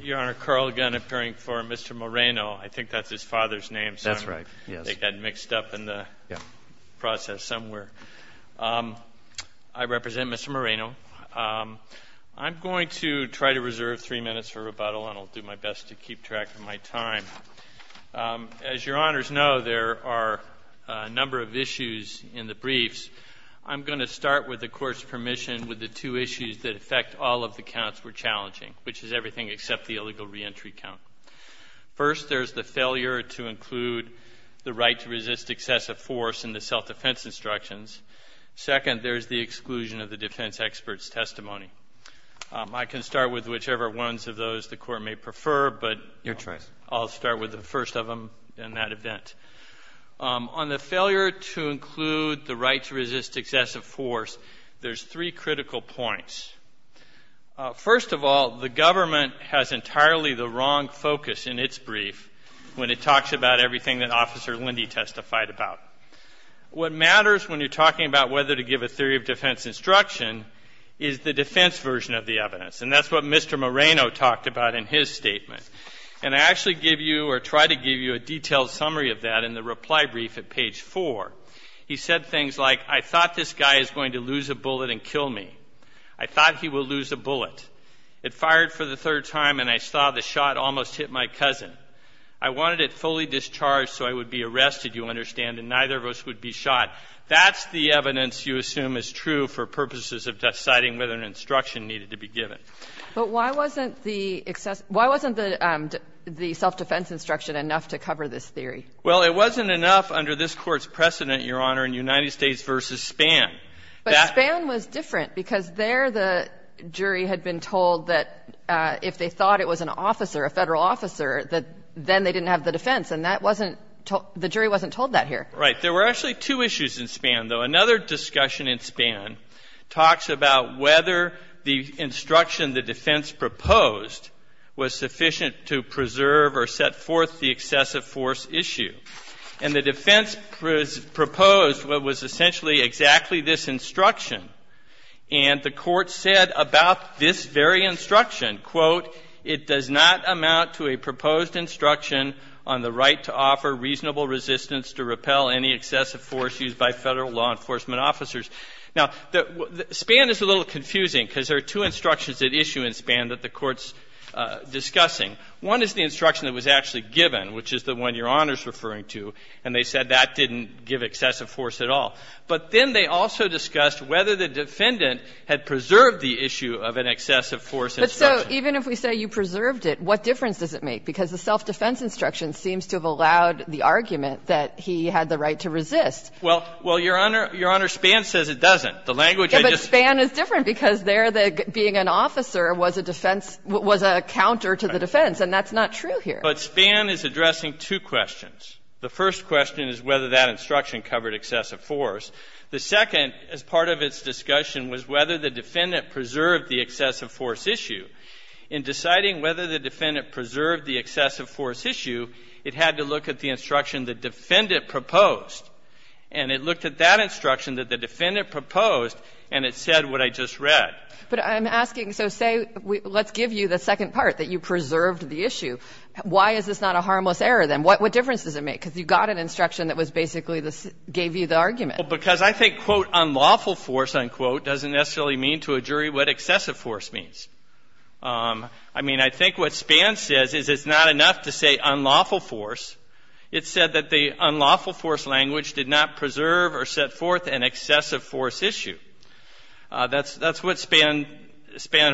Your Honor, Carl Gunn, appearing before Mr. Moreno. I think that's his father's name, sir. That's right, yes. I think that mixed up in the process somewhere. I represent Mr. Moreno. I'm going to try to reserve three minutes for rebuttal, and I'll do my best to keep track of my time. As Your Honors know, there are a number of issues in the briefs. I'm going to start with the Court's permission with the two issues that affect all of the counts we're challenging, which is everything except the illegal reentry count. First, there's the failure to include the right to resist excessive force in the self-defense instructions. Second, there's the exclusion of the defense expert's testimony. I can start with whichever ones of those the Court may prefer, but I'll start with the first of them in that event. On the failure to include the right to resist excessive force, there's three critical points. First of all, the government has entirely the wrong focus in its brief when it talks about everything that Officer Lindy testified about. What matters when you're talking about whether to give a theory of defense instruction is the defense version of the evidence, and that's what Mr. Moreno talked about in his statement. And I actually give you or try to give you a detailed summary of that in the reply brief at page 4. He said things like, I thought this guy is going to lose a bullet and kill me. I thought he will lose a bullet. It fired for the third time, and I saw the shot almost hit my cousin. I wanted it fully discharged so I would be arrested, you understand, and neither of us would be shot. That's the evidence you assume is true for purposes of deciding whether an instruction needed to be given. But why wasn't the self-defense instruction enough to cover this theory? Well, it wasn't enough under this Court's precedent, Your Honor, in United States v. Span. But Span was different because there the jury had been told that if they thought it was an officer, a Federal officer, that then they didn't have the defense. And that wasn't the jury wasn't told that here. Right. There were actually two issues in Span, though. Another discussion in Span talks about whether the instruction the defense proposed was sufficient to preserve or set forth the excessive force issue. And the defense proposed what was essentially exactly this instruction. And the Court said about this very instruction, quote, it does not amount to a proposed instruction on the right to offer reasonable resistance to repel any excessive force used by Federal law enforcement officers. Now, Span is a little confusing because there are two instructions at issue in Span that the Court's discussing. One is the instruction that was actually given, which is the one Your Honor is referring to, and they said that didn't give excessive force at all. But then they also discussed whether the defendant had preserved the issue of an excessive force instruction. But so even if we say you preserved it, what difference does it make? Because the self-defense instruction seems to have allowed the argument that he had the right to resist. Well, Your Honor, Span says it doesn't. The language I just used. But Span is different because there being an officer was a defense, was a counter to the defense, and that's not true here. But Span is addressing two questions. The first question is whether that instruction covered excessive force. The second, as part of its discussion, was whether the defendant preserved the excessive force issue. In deciding whether the defendant preserved the excessive force issue, it had to look at the instruction the defendant proposed. And it looked at that instruction that the defendant proposed, and it said what I just read. But I'm asking, so say, let's give you the second part, that you preserved the issue. Why is this not a harmless error, then? What difference does it make? Because you got an instruction that basically gave you the argument. Because I think, quote, unlawful force, unquote, doesn't necessarily mean to a jury what excessive force means. I mean, I think what Span says is it's not enough to say unlawful force. It said that the unlawful force language did not preserve or set forth an excessive force issue. That's what Span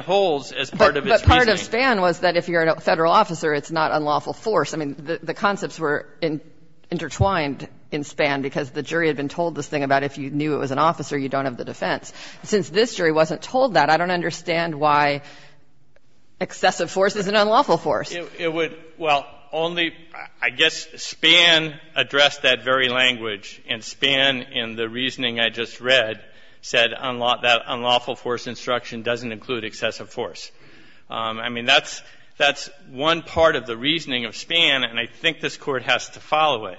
holds as part of its reasoning. But part of Span was that if you're a Federal officer, it's not unlawful force. I mean, the concepts were intertwined in Span because the jury had been told this thing about if you knew it was an officer, you don't have the defense. Since this jury wasn't told that, I don't understand why excessive force isn't unlawful force. It would, well, only, I guess, Span addressed that very language. And Span, in the reasoning I just read, said that unlawful force instruction doesn't include excessive force. I mean, that's one part of the reasoning of Span, and I think this Court has to follow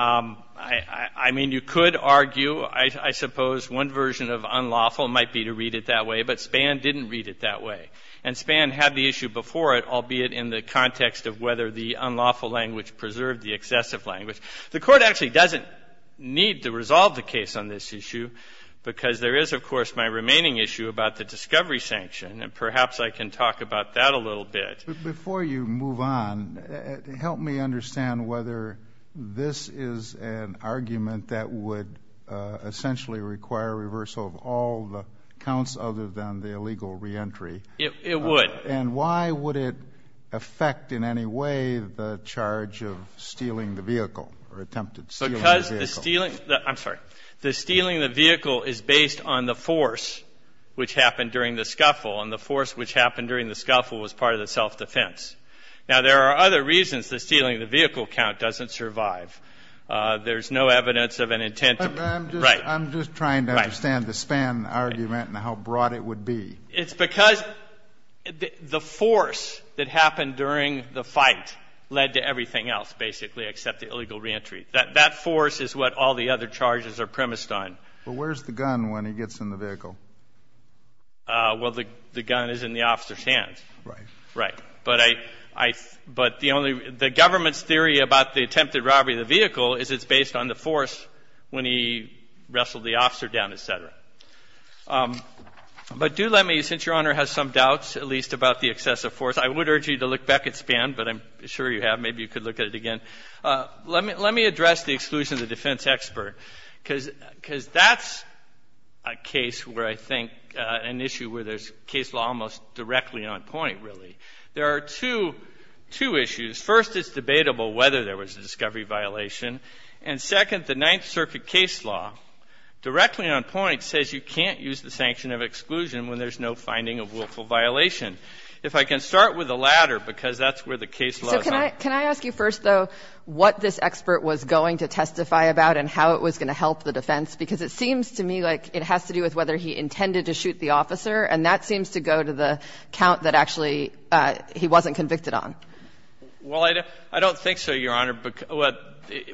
I mean, you could argue, I suppose, one version of unlawful might be to read it that way, but Span didn't read it that way. And Span had the issue before it, albeit in the context of whether the unlawful language preserved the excessive language. The Court actually doesn't need to resolve the case on this issue because there is, of course, my remaining issue about the discovery sanction, and perhaps I can talk about that a little bit. But before you move on, help me understand whether this is an argument that would essentially require reversal of all the counts other than the illegal reentry. It would. And why would it affect in any way the charge of stealing the vehicle or attempted stealing the vehicle? Because the stealing the vehicle is based on the force which happened during the assault defense. Now, there are other reasons the stealing the vehicle count doesn't survive. There's no evidence of an intent to be. Right. I'm just trying to understand the Span argument and how broad it would be. It's because the force that happened during the fight led to everything else, basically, except the illegal reentry. That force is what all the other charges are premised on. But where's the gun when he gets in the vehicle? Well, the gun is in the officer's hands. Right. Right. But the government's theory about the attempted robbery of the vehicle is it's based on the force when he wrestled the officer down, et cetera. But do let me, since Your Honor has some doubts at least about the excessive force, I would urge you to look back at Span, but I'm sure you have. Maybe you could look at it again. Let me address the exclusion of the defense expert, because that's a case where I think an issue where there's case law almost directly on point, really. There are two issues. First, it's debatable whether there was a discovery violation. And second, the Ninth Circuit case law directly on point says you can't use the sanction of exclusion when there's no finding of willful violation. If I can start with the latter, because that's where the case law is on. So can I ask you first, though, what this expert was going to testify about and how it was going to help the defense? Because it seems to me like it has to do with whether he intended to shoot the officer, and that seems to go to the count that actually he wasn't convicted on. Well, I don't think so, Your Honor.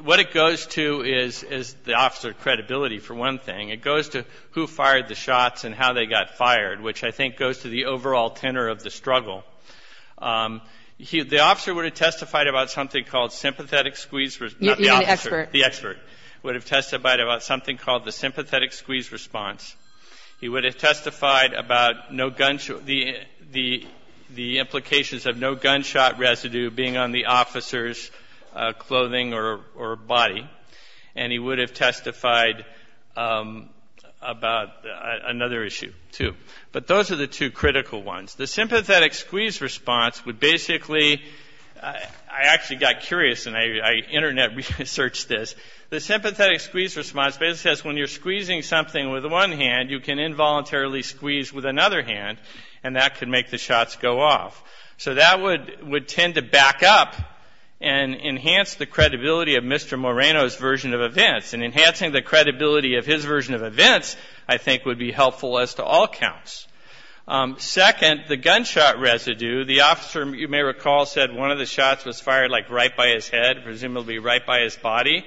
What it goes to is the officer credibility, for one thing. It goes to who fired the shots and how they got fired, which I think goes to the overall tenor of the struggle. The officer would have testified about something called sympathetic squeezers You mean the expert. The expert would have testified about something called the sympathetic squeeze response. He would have testified about the implications of no gunshot residue being on the officer's clothing or body. And he would have testified about another issue, too. But those are the two critical ones. The sympathetic squeeze response would basically ‑‑ I actually got curious, and I internet researched this. The sympathetic squeeze response basically says when you're squeezing something with one hand, you can involuntarily squeeze with another hand, and that can make the shots go off. So that would tend to back up and enhance the credibility of Mr. Moreno's version of events. And enhancing the credibility of his version of events, I think, would be helpful as to all counts. Second, the gunshot residue. The officer, you may recall, said one of the shots was fired like right by his head, presumably right by his body.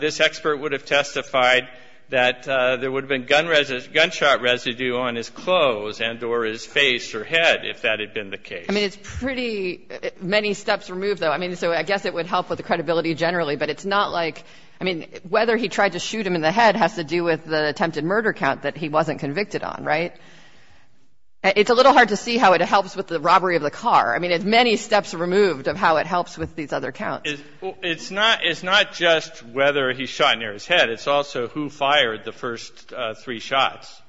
This expert would have testified that there would have been gunshot residue on his clothes and or his face or head if that had been the case. I mean, it's pretty many steps removed, though. I mean, so I guess it would help with the credibility generally, but it's not like ‑‑ I mean, whether he tried to shoot him in the head has to do with the attempted murder count that he wasn't convicted on, right? It's a little hard to see how it helps with the robbery of the car. I mean, it's many steps removed of how it helps with these other counts. It's not just whether he shot near his head. It's also who fired the first three shots.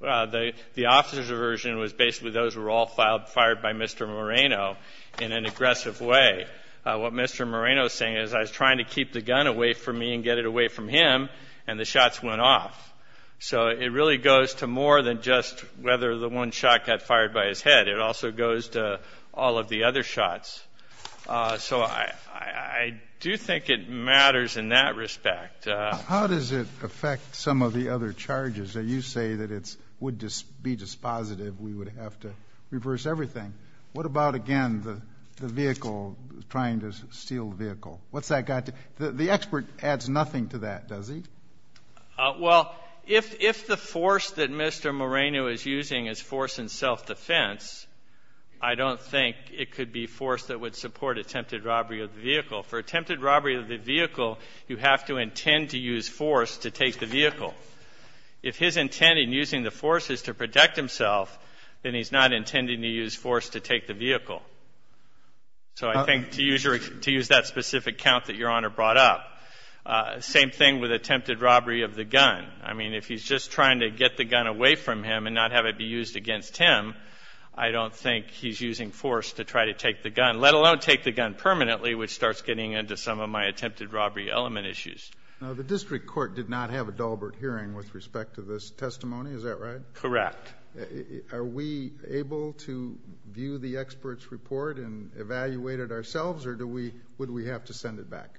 The officer's version was basically those were all fired by Mr. Moreno in an aggressive way. What Mr. Moreno is saying is I was trying to keep the gun away from me and get it away from him, and the shots went off. So it really goes to more than just whether the one shot got fired by his head. It also goes to all of the other shots. So I do think it matters in that respect. How does it affect some of the other charges? You say that it would be dispositive, we would have to reverse everything. What about, again, the vehicle, trying to steal the vehicle? What's that got to ‑‑ the expert adds nothing to that, does he? Well, if the force that Mr. Moreno is using is force in self‑defense, I don't think it could be force that would support attempted robbery of the vehicle. For attempted robbery of the vehicle, you have to intend to use force to take the vehicle. If his intent in using the force is to protect himself, then he's not intending to use force to take the vehicle. So I think to use that specific count that Your Honor brought up. Same thing with attempted robbery of the gun. I mean, if he's just trying to get the gun away from him and not have it be used against him, I don't think he's using force to try to take the gun, let alone take the gun permanently, which starts getting into some of my attempted robbery element issues. Now, the district court did not have a Dahlberg hearing with respect to this testimony, is that right? Correct. Are we able to view the expert's report and evaluate it ourselves, or would we have to send it back?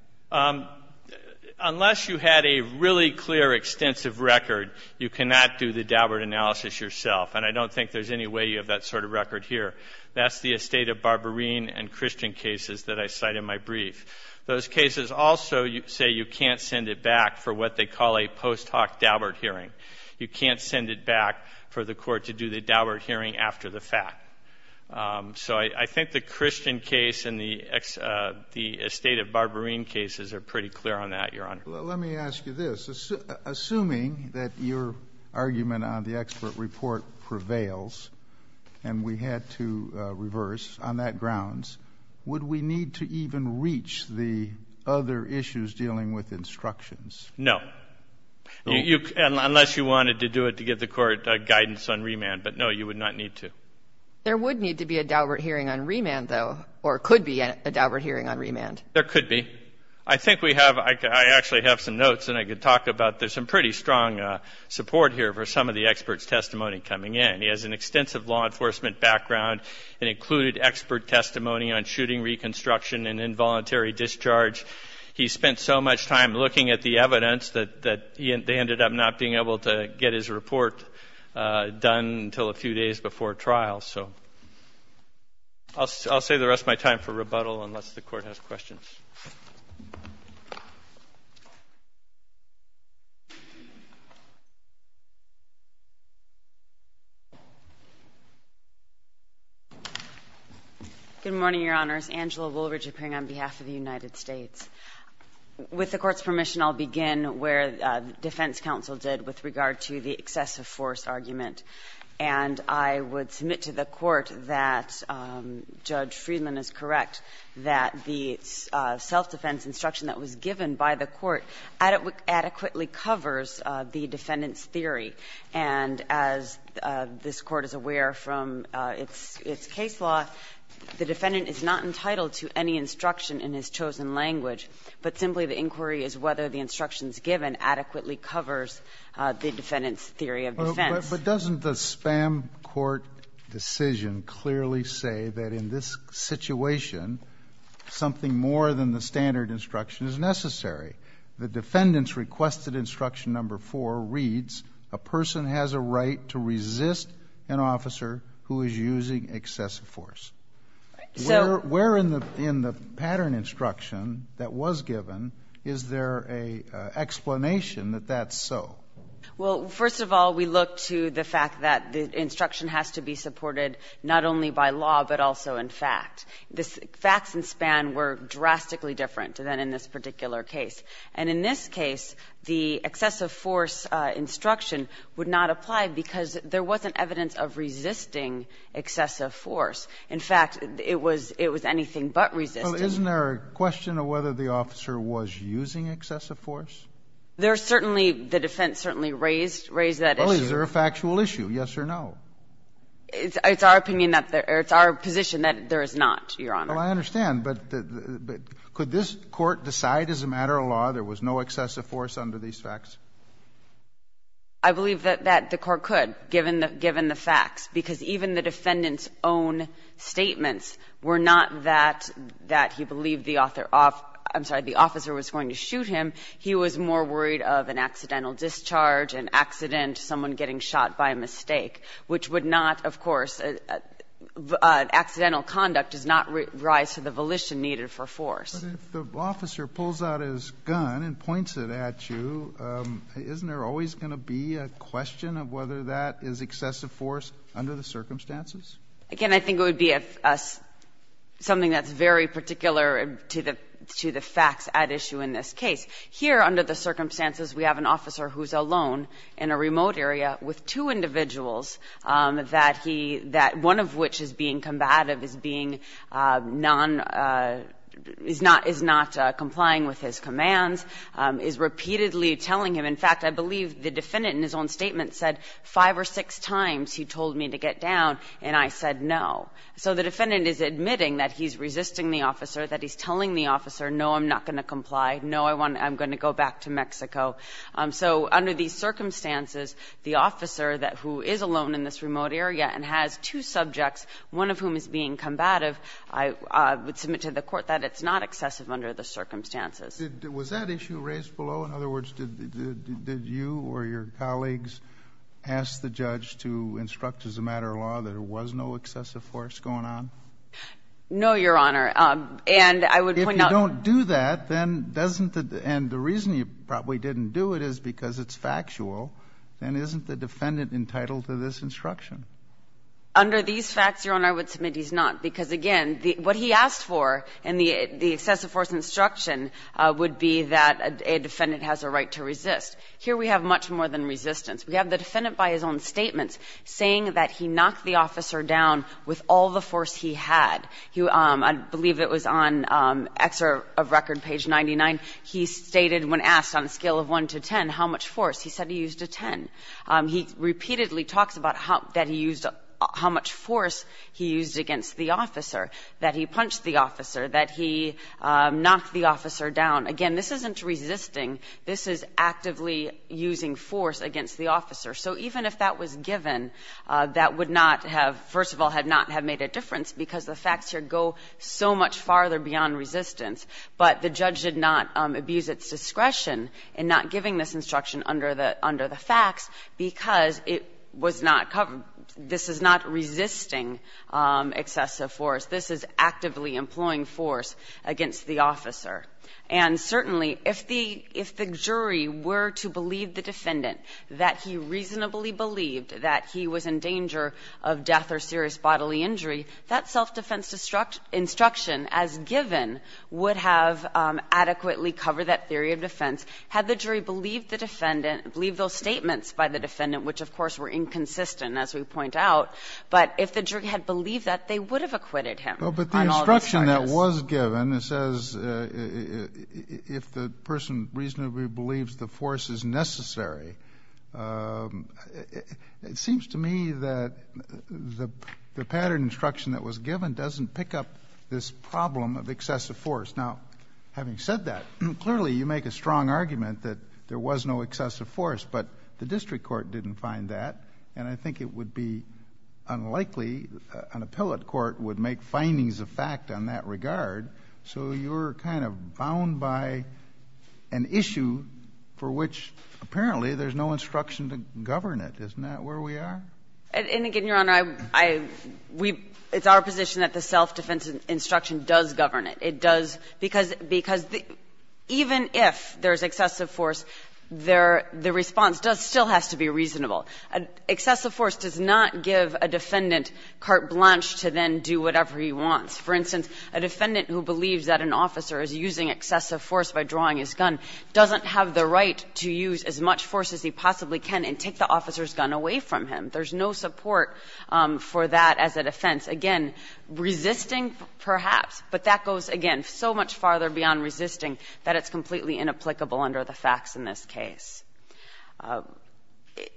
Unless you had a really clear extensive record, you cannot do the Dahlberg analysis yourself, and I don't think there's any way you have that sort of record here. That's the estate of Barbarine and Christian cases that I cite in my brief. Those cases also say you can't send it back for what they call a post hoc Dahlberg hearing. You can't send it back for the court to do the Dahlberg hearing after the fact. So I think the Christian case and the estate of Barbarine cases are pretty clear on that, Your Honor. Well, let me ask you this. Assuming that your argument on the expert report prevails and we had to reverse on that grounds, would we need to even reach the other issues dealing with instructions? No, unless you wanted to do it to give the court guidance on remand. But, no, you would not need to. There would need to be a Dahlberg hearing on remand, though, or could be a Dahlberg hearing on remand. There could be. I think we have – I actually have some notes, and I could talk about – there's some pretty strong support here for some of the expert's testimony coming in. He has an extensive law enforcement background and included expert testimony on shooting reconstruction and involuntary discharge. He spent so much time looking at the evidence that they ended up not being able to get his report done until a few days before trial. So I'll save the rest of my time for rebuttal unless the Court has questions. Good morning, Your Honors. Angela Woolridge appearing on behalf of the United States. With the Court's permission, I'll begin where defense counsel did with regard to the excessive force argument. And I would submit to the Court that Judge Friedman is correct that the self-defense instruction that was given by the Court adequately covers the defendant's theory. And as this Court is aware from its case law, the defendant is not entitled to any instruction in his chosen language, but simply the inquiry is whether the instructions given adequately covers the defendant's theory of defense. But doesn't the spam court decision clearly say that in this situation something more than the standard instruction is necessary? The defendant's requested instruction number four reads, a person has a right to resist an officer who is using excessive force. Where in the pattern instruction that was given, is there an explanation that that's so? Well, first of all, we look to the fact that the instruction has to be supported not only by law, but also in fact. The facts in Span were drastically different than in this particular case. And in this case, the excessive force instruction would not apply because there wasn't evidence of resisting excessive force. In fact, it was anything but resisting. Well, isn't there a question of whether the officer was using excessive force? There certainly, the defense certainly raised that issue. Well, is there a factual issue, yes or no? It's our opinion that there or it's our position that there is not, Your Honor. Well, I understand, but could this Court decide as a matter of law there was no excessive force under these facts? I believe that the Court could, given the facts, because even the defendant's own statements were not that he believed the officer was going to shoot him. He was more worried of an accidental discharge, an accident, someone getting shot by mistake, which would not, of course, an accidental conduct does not rise to the volition needed for force. But if the officer pulls out his gun and points it at you, isn't there always going to be a question of whether that is excessive force under the circumstances? Again, I think it would be something that's very particular to the facts at issue in this case. Here, under the circumstances, we have an officer who's alone in a remote area with two individuals that he that one of which is being combative, is being non, is not complying with his commands, is repeatedly telling him. In fact, I believe the defendant in his own statement said five or six times he told me to get down, and I said no. So the defendant is admitting that he's resisting the officer, that he's telling the officer, no, I'm not going to comply, no, I'm going to go back to Mexico. So under these circumstances, the officer that who is alone in this remote area and has two subjects, one of whom is being combative, I would submit to the Court that it's not excessive under the circumstances. Was that issue raised below? In other words, did you or your colleagues ask the judge to instruct as a matter of law that there was no excessive force going on? No, Your Honor. And I would point out the reason you probably didn't do it is because it's factual. Then isn't the defendant entitled to this instruction? Under these facts, Your Honor, I would submit he's not. Because again, what he asked for in the excessive force instruction would be that a defendant has a right to resist. Here we have much more than resistance. We have the defendant by his own statements saying that he knocked the officer down with all the force he had. I believe it was on exer of record page 99. He stated when asked on a scale of 1 to 10 how much force, he said he used a 10. He repeatedly talks about how much force he used against the officer, that he punched the officer, that he knocked the officer down. Again, this isn't resisting. This is actively using force against the officer. So even if that was given, that would not have, first of all, had not made a difference because the facts here go so much farther beyond resistance. But the judge did not abuse its discretion in not giving this instruction under the facts because it was not covered. This is not resisting excessive force. This is actively employing force against the officer. And certainly, if the jury were to believe the defendant that he reasonably believed that he was in danger of death or serious bodily injury, that self-defense instruction as given would have adequately covered that theory of defense. Had the jury believed the defendant, believed those statements by the defendant, which, of course, were inconsistent, as we point out, but if the jury had believed that, they would have acquitted him on all those charges. The instruction that was given, it says, if the person reasonably believes the force is necessary, it seems to me that the pattern instruction that was given doesn't pick up this problem of excessive force. Now, having said that, clearly you make a strong argument that there was no excessive force, but the district court didn't find that, and I think it would be So you're kind of bound by an issue for which, apparently, there's no instruction to govern it. Isn't that where we are? And again, Your Honor, I we've – it's our position that the self-defense instruction does govern it. It does because even if there's excessive force, the response still has to be reasonable. Excessive force does not give a defendant carte blanche to then do whatever he wants. For instance, a defendant who believes that an officer is using excessive force by drawing his gun doesn't have the right to use as much force as he possibly can and take the officer's gun away from him. There's no support for that as a defense. Again, resisting, perhaps, but that goes, again, so much farther beyond resisting that it's completely inapplicable under the facts in this case.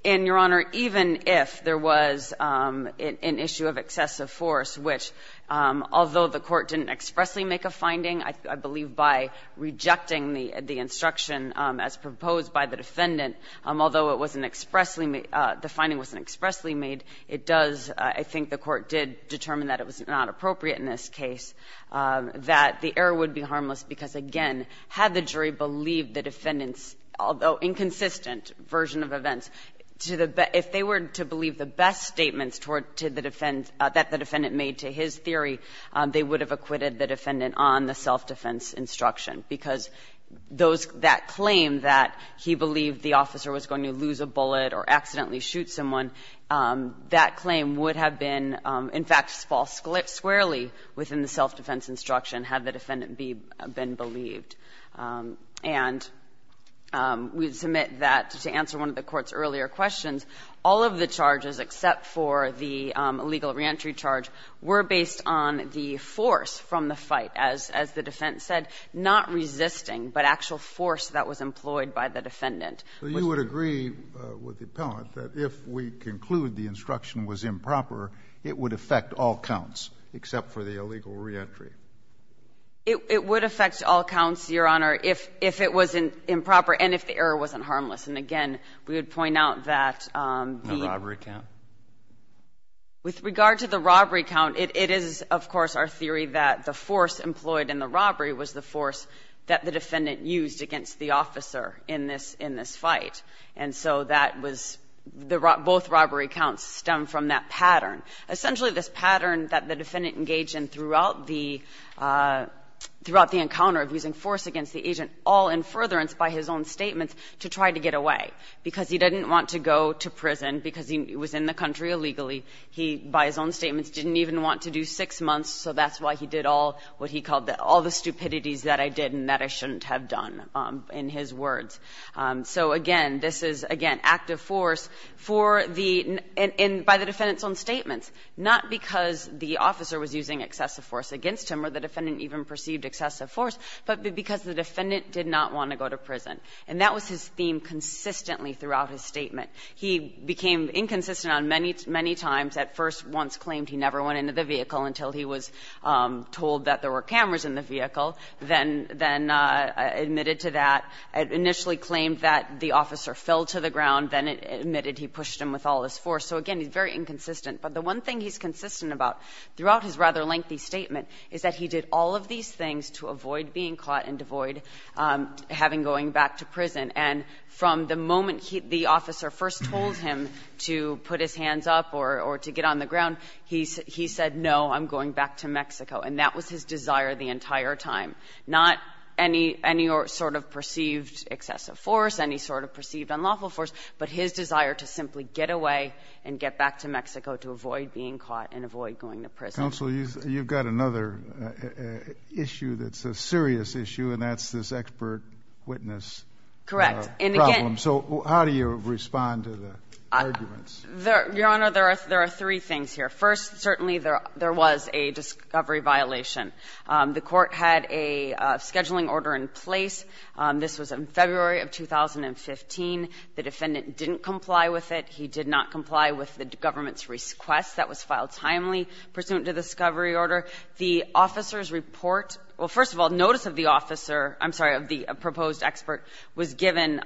And, Your Honor, even if there was an issue of excessive force, which, although the court didn't expressly make a finding, I believe by rejecting the instruction as proposed by the defendant, although it wasn't expressly – the finding wasn't expressly made, it does – I think the court did determine that it was not appropriate in this case that the error would be harmless because, again, had the jury believed the defendant's, although inconsistent, version of events, if they were to believe the best statements that the defendant made to his theory, they would have acquitted the defendant on the self-defense instruction, because that claim that he believed the officer was going to lose a bullet or accidentally shoot someone, that claim would have been, in fact, false squarely within the self-defense instruction had the defendant been believed. And we submit that, to answer one of the Court's earlier questions, all of the charges, except for the illegal reentry charge, were based on the force from the fight, as the actual force that was employed by the defendant. So you would agree with the appellant that if we conclude the instruction was improper, it would affect all counts, except for the illegal reentry? It would affect all counts, Your Honor, if it was improper and if the error wasn't harmless. And, again, we would point out that the robbery count, it is, of course, our theory that the force employed in the robbery was the force that the defendant used against the officer in this fight. And so that was the rob – both robbery counts stem from that pattern. Essentially, this pattern that the defendant engaged in throughout the encounter of using force against the agent, all in furtherance by his own statements, to try to get away, because he didn't want to go to prison, because he was in the country illegally. He, by his own statements, didn't even want to do six months, so that's why he did all what he called all the stupidities that I did and that I shouldn't have done in his words. So, again, this is, again, active force for the – and by the defendant's own statements, not because the officer was using excessive force against him or the defendant even perceived excessive force, but because the defendant did not want to go to prison. And that was his theme consistently throughout his statement. He became inconsistent on many, many times. At first, once claimed he never went into the vehicle until he was told that there were cameras in the vehicle, then – then admitted to that, initially claimed that the officer fell to the ground, then admitted he pushed him with all his force. So, again, he's very inconsistent. But the one thing he's consistent about throughout his rather lengthy statement is that he did all of these things to avoid being caught and avoid having – going back to prison. And from the moment the officer first told him to put his hands up or to get on the ground, he said, no, I'm going back to Mexico. And that was his desire the entire time. Not any – any sort of perceived excessive force, any sort of perceived unlawful force, but his desire to simply get away and get back to Mexico to avoid being caught and avoid going to prison. Counsel, you've got another issue that's a serious issue, and that's this expert witness. Correct. And again – So how do you respond to the arguments? Your Honor, there are three things here. First, certainly there was a discovery violation. The Court had a scheduling order in place. This was in February of 2015. The defendant didn't comply with it. He did not comply with the government's request. That was filed timely pursuant to the discovery order. The officer's report – well, first of all, notice of the officer – I'm sorry, of the proposed expert was given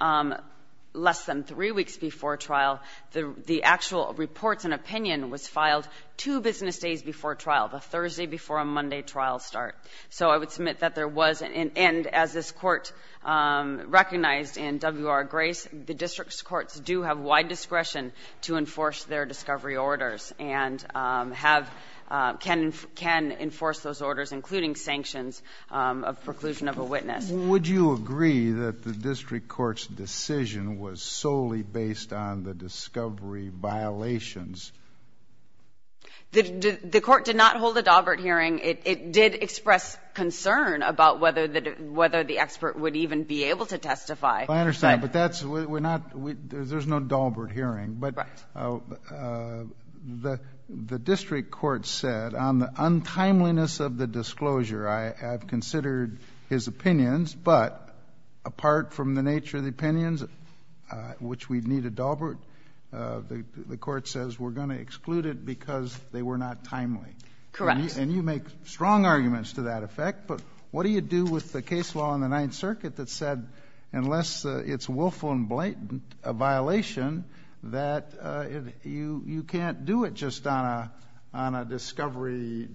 less than three weeks before trial. The actual reports and opinion was filed two business days before trial, the Thursday before a Monday trial start. So I would submit that there was – and as this Court recognized in W.R. Grace, the district's courts do have wide discretion to enforce their discovery orders and have – can enforce those orders, including sanctions of preclusion of a witness. Would you agree that the district court's decision was solely based on the discovery violations? The court did not hold a Daubert hearing. It did express concern about whether the expert would even be able to testify. I understand. But that's – we're not – there's no Daubert hearing. Right. But the district court said, on the untimeliness of the disclosure, I have considered his opinions. But apart from the nature of the opinions, which we'd need a Daubert, the court says we're going to exclude it because they were not timely. Correct. And you make strong arguments to that effect. But what do you do with the case law in the Ninth Circuit that said unless it's willful and blatant, a violation, that you can't do it just on a discovery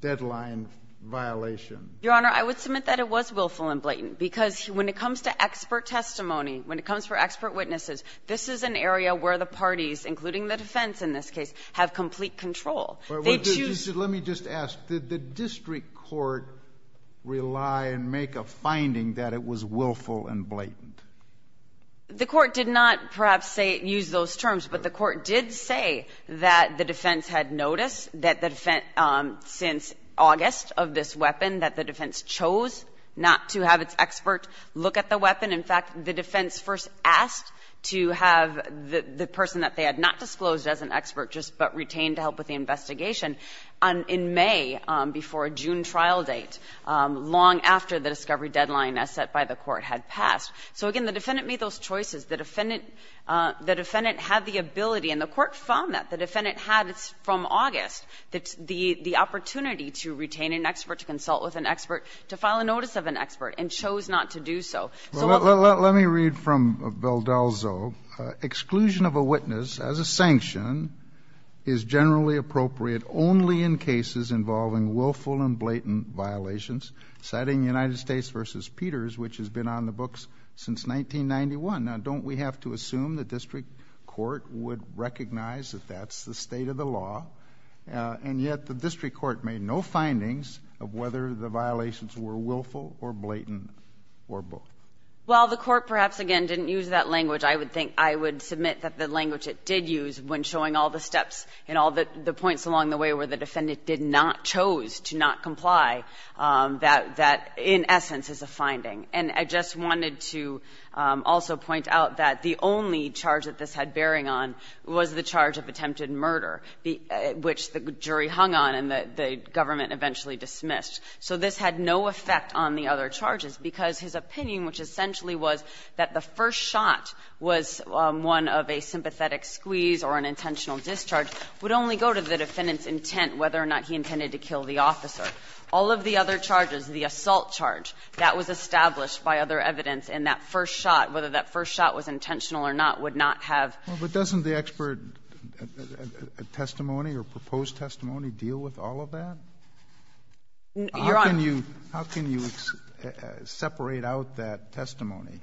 deadline violation? Your Honor, I would submit that it was willful and blatant, because when it comes to expert testimony, when it comes for expert witnesses, this is an area where the parties, including the defense in this case, have complete control. They choose – Let me just ask. Did the district court rely and make a finding that it was willful and blatant? The court did not, perhaps, say – use those terms, but the court did say that the defense chose not to have its expert look at the weapon. In fact, the defense first asked to have the person that they had not disclosed as an expert just but retained to help with the investigation in May before a June trial date, long after the discovery deadline as set by the court had passed. So, again, the defendant made those choices. The defendant had the ability, and the court found that the defendant had from August the opportunity to retain an expert, to consult with an expert, to file a notice of an expert, and chose not to do so. Let me read from Valdelzo. Exclusion of a witness as a sanction is generally appropriate only in cases involving willful and blatant violations, citing United States v. Peters, which has been on the books since 1991. Now, don't we have to assume the district court would recognize that that's the state of the law, and yet the district court made no findings of whether the violations were willful or blatant or both? Well, the court, perhaps, again, didn't use that language. I would think – I would submit that the language it did use when showing all the steps and all the points along the way where the defendant did not chose to not comply, that that, in essence, is a finding. And I just wanted to also point out that the only charge that this had bearing on was the charge of attempted murder, which the jury hung on and the government eventually dismissed. So this had no effect on the other charges, because his opinion, which essentially was that the first shot was one of a sympathetic squeeze or an intentional discharge, would only go to the defendant's intent whether or not he intended to kill the officer. All of the other charges, the assault charge, that was established by other evidence and that first shot, whether that first shot was intentional or not, would not have But doesn't the expert testimony or proposed testimony deal with all of that? Your Honor. How can you separate out that testimony?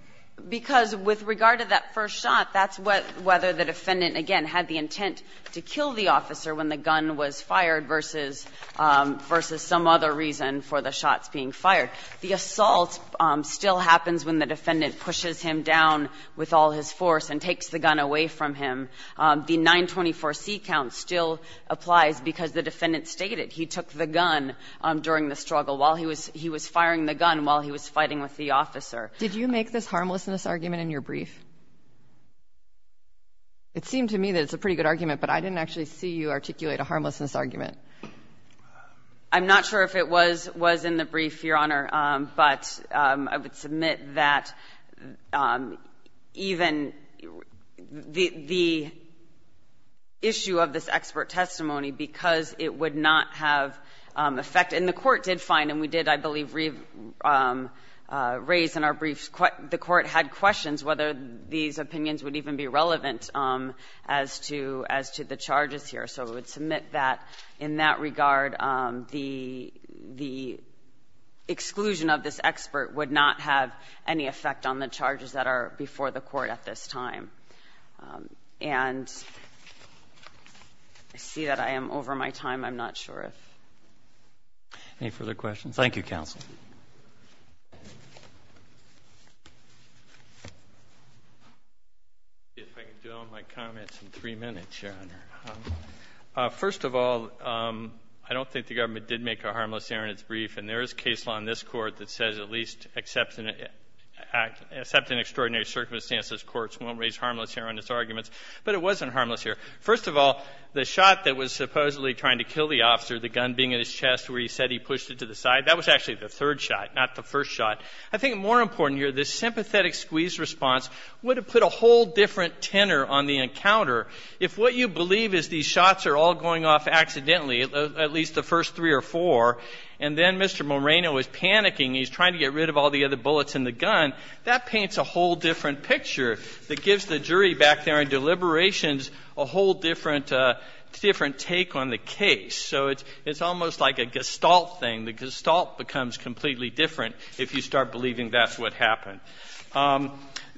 Because with regard to that first shot, that's whether the defendant, again, had the intent to kill the officer when the gun was fired versus some other reason for the shots being fired. The assault still happens when the defendant pushes him down with all his force and takes the gun away from him. The 924C count still applies because the defendant stated he took the gun during the struggle while he was firing the gun while he was fighting with the officer. Did you make this harmlessness argument in your brief? It seemed to me that it's a pretty good argument, but I didn't actually see you articulate a harmlessness argument. I'm not sure if it was in the brief, Your Honor, but I would submit that even the issue of this expert testimony, because it would not have effect. And the Court did find, and we did, I believe, raise in our brief, the Court had questions whether these opinions would even be relevant as to the charges here. So I would submit that in that regard, the exclusion of this expert would not have any effect on the charges that are before the Court at this time. And I see that I am over my time. I'm not sure if any further questions. Thank you, counsel. If I could dwell on my comments in three minutes, Your Honor. First of all, I don't think the government did make a harmlessness argument in its brief. And there is case law in this Court that says at least except in extraordinary circumstances, courts won't raise harmlessness arguments, but it wasn't harmless here. First of all, the shot that was supposedly trying to kill the officer, the gun being in his chest where he said he pushed it to the side, that was actually the third shot, not the first shot. I think more important here, this sympathetic squeeze response would have put a whole different tenor on the encounter. If what you believe is these shots are all going off accidentally, at least the first three or four, and then Mr. Moreno is panicking, he's trying to get rid of all the other bullets in the gun, that paints a whole different picture that gives the jury back there in deliberations a whole different take on the case. So it's almost like a Gestalt thing. The Gestalt becomes completely different if you start believing that's what happened.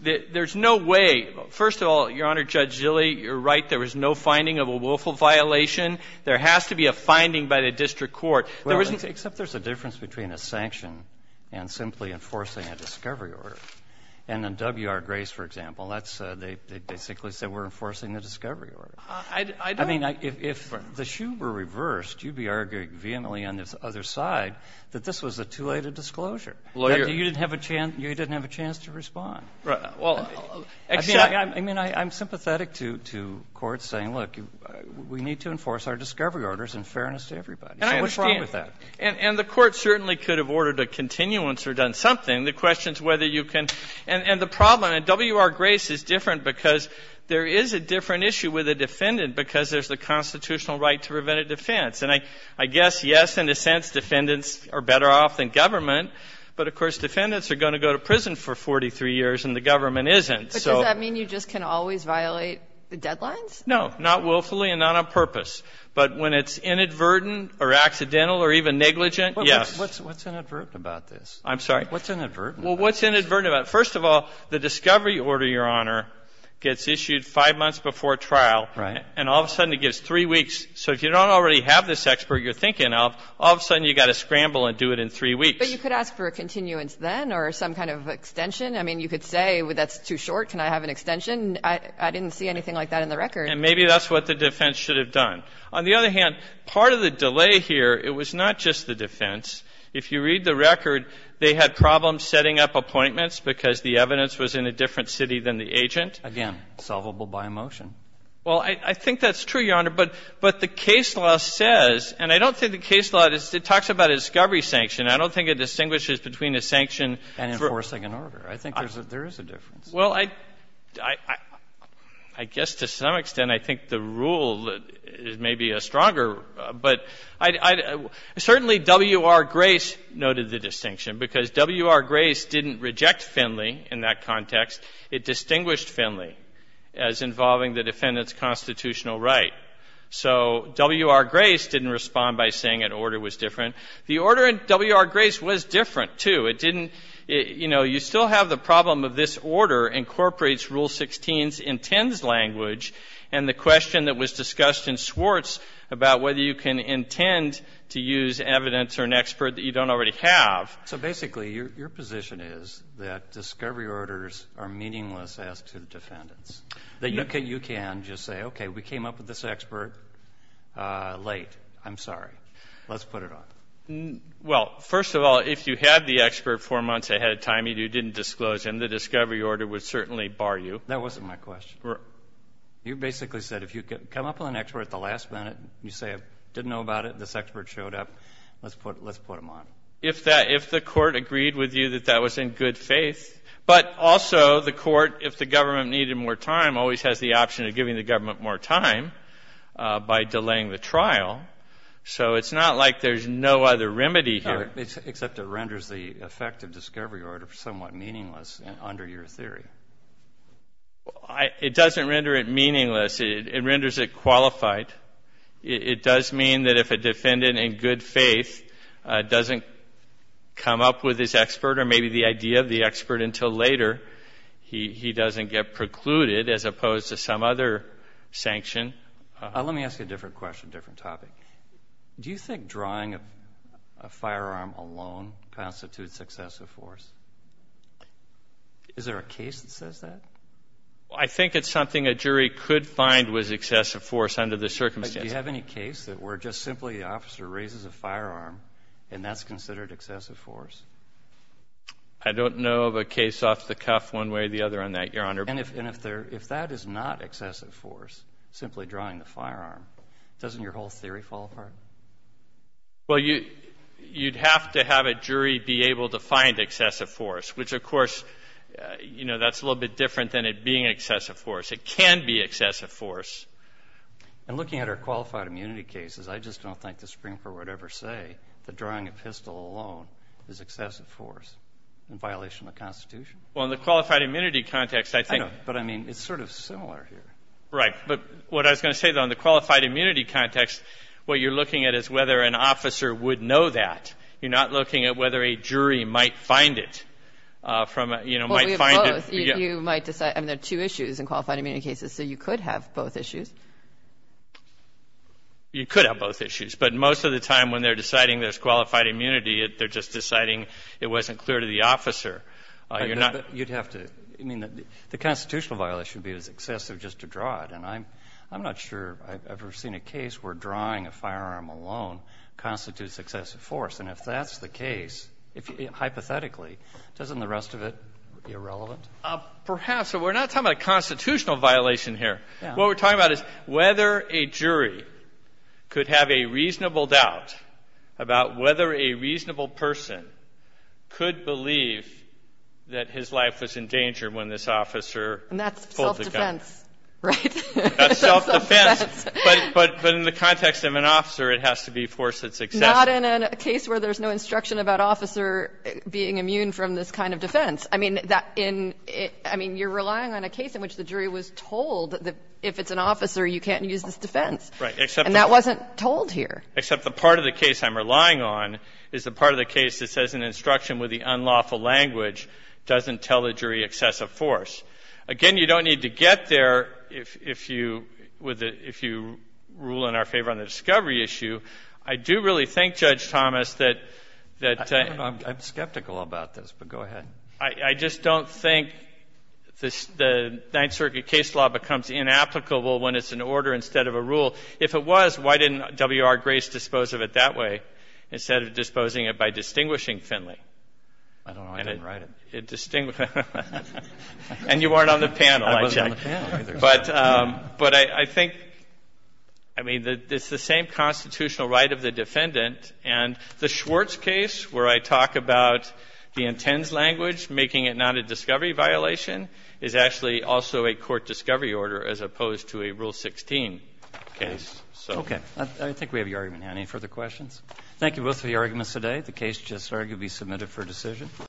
There's no way. First of all, Your Honor, Judge Zille, you're right. There was no finding of a willful violation. There has to be a finding by the district court. There isn't. Breyer, except there's a difference between a sanction and simply enforcing a discovery order. And in W.R. Grace, for example, that's they basically said we're enforcing the discovery order. I don't. I mean, if the shoe were reversed, you'd be arguing vehemently on the other side that this was a too late a disclosure. Lawyer. You didn't have a chance to respond. I mean, I'm sympathetic to courts saying, look, we need to enforce our discovery orders in fairness to everybody. So what's wrong with that? And the court certainly could have ordered a continuance or done something. The question is whether you can. And the problem in W.R. Grace is different because there is a different issue with a defendant because there's the constitutional right to prevent a defense. And I guess, yes, in a sense, defendants are better off than government. But, of course, defendants are going to go to prison for 43 years and the government isn't. So. But does that mean you just can always violate the deadlines? No. Not willfully and not on purpose. But when it's inadvertent or accidental or even negligent, yes. What's inadvertent about this? I'm sorry? What's inadvertent about this? Well, what's inadvertent about it? First of all, the discovery order, Your Honor, gets issued five months before trial. Right. And all of a sudden it gets three weeks. So if you don't already have this expert you're thinking of, all of a sudden you've got to scramble and do it in three weeks. But you could ask for a continuance then or some kind of extension. I mean, you could say, well, that's too short. Can I have an extension? I didn't see anything like that in the record. And maybe that's what the defense should have done. On the other hand, part of the delay here, it was not just the defense. If you read the record, they had problems setting up appointments because the evidence was in a different city than the agent. Again, solvable by a motion. Well, I think that's true, Your Honor. But the case law says, and I don't think the case law talks about a discovery sanction. I don't think it distinguishes between a sanction and enforcing an order. I think there is a difference. Well, I guess to some extent I think the rule is maybe a stronger rule. But certainly W.R. Grace noted the distinction because W.R. Grace didn't reject Finley in that context. It distinguished Finley as involving the defendant's constitutional right. So W.R. Grace didn't respond by saying an order was different. The order in W.R. Grace was different, too. It didn't, you know, you still have the problem of this order incorporates Rule 16's intends language and the question that was discussed in Swartz about whether you can intend to use evidence or an expert that you don't already have. So basically your position is that discovery orders are meaningless as to the defendants. You can just say, okay, we came up with this expert late. I'm sorry. Let's put it on. Well, first of all, if you had the expert four months ahead of time, you didn't disclose him, the discovery order would certainly bar you. That wasn't my question. You basically said if you come up with an expert at the last minute, you say I didn't know about it, this expert showed up, let's put him on. If the court agreed with you that that was in good faith, but also the court, if the government needed more time, always has the option of giving the government more time by delaying the trial. So it's not like there's no other remedy here. Except it renders the effective discovery order somewhat meaningless under your theory. It doesn't render it meaningless. It renders it qualified. It does mean that if a defendant in good faith doesn't come up with his expert or maybe the idea of the expert until later, he doesn't get precluded as opposed to some other sanction. Let me ask you a different question, different topic. Do you think drawing a firearm alone constitutes excessive force? Is there a case that says that? I think it's something a jury could find was excessive force under the circumstances. Do you have any case that where just simply the officer raises a firearm and that's considered excessive force? I don't know of a case off the cuff one way or the other on that, Your Honor. And if that is not excessive force, simply drawing the firearm, doesn't your whole theory fall apart? Well, you'd have to have a jury be able to find excessive force, which, of course, that's a little bit different than it being excessive force. It can be excessive force. And looking at our qualified immunity cases, I just don't think the Supreme Court would ever say that drawing a pistol alone is excessive force in violation of the Constitution. Well, in the qualified immunity context, I think I know, but I mean, it's sort of similar here. Right. But what I was going to say, though, in the qualified immunity context, what you're looking at is whether an officer would know that. You're not looking at whether a jury might find it from, you know, might find it Well, we have both. You might decide. I mean, there are two issues in qualified immunity cases. So you could have both issues. You could have both issues. But most of the time when they're deciding there's qualified immunity, they're just deciding it wasn't clear to the officer. You're not You'd have to. I mean, the constitutional violation would be excessive just to draw it. And I'm not sure I've ever seen a case where drawing a firearm alone constitutes excessive force. And if that's the case, hypothetically, doesn't the rest of it be irrelevant? Perhaps. We're not talking about a constitutional violation here. What we're talking about is whether a jury could have a reasonable doubt about whether a reasonable person could believe that his life was in danger when this officer pulled the gun. And that's self-defense, right? That's self-defense. But in the context of an officer, it has to be force that's excessive. Not in a case where there's no instruction about officer being immune from this kind of defense. I mean, you're relying on a case in which the jury was told that if it's an officer, you can't use this defense. Except And that wasn't told here. Except the part of the case I'm relying on is the part of the case that says an instruction with the unlawful language doesn't tell the jury excessive force. Again, you don't need to get there if you rule in our favor on the discovery issue. I do really think, Judge Thomas, that the I'm skeptical about this, but go ahead. I just don't think the Ninth Circuit case law becomes inapplicable when it's an order instead of a rule. If it was, why didn't W.R. Grace dispose of it that way instead of disposing of it by distinguishing Finley? I don't know. I didn't write it. And you weren't on the panel, I checked. I wasn't on the panel either. But I think, I mean, it's the same constitutional right of the defendant. And the Schwartz case where I talk about the intends language making it not a discovery violation is actually also a court discovery order as opposed to a Rule 16 case. Okay. I think we have your argument now. Any further questions? Thank you both for your arguments today. The case just arguably submitted for decision.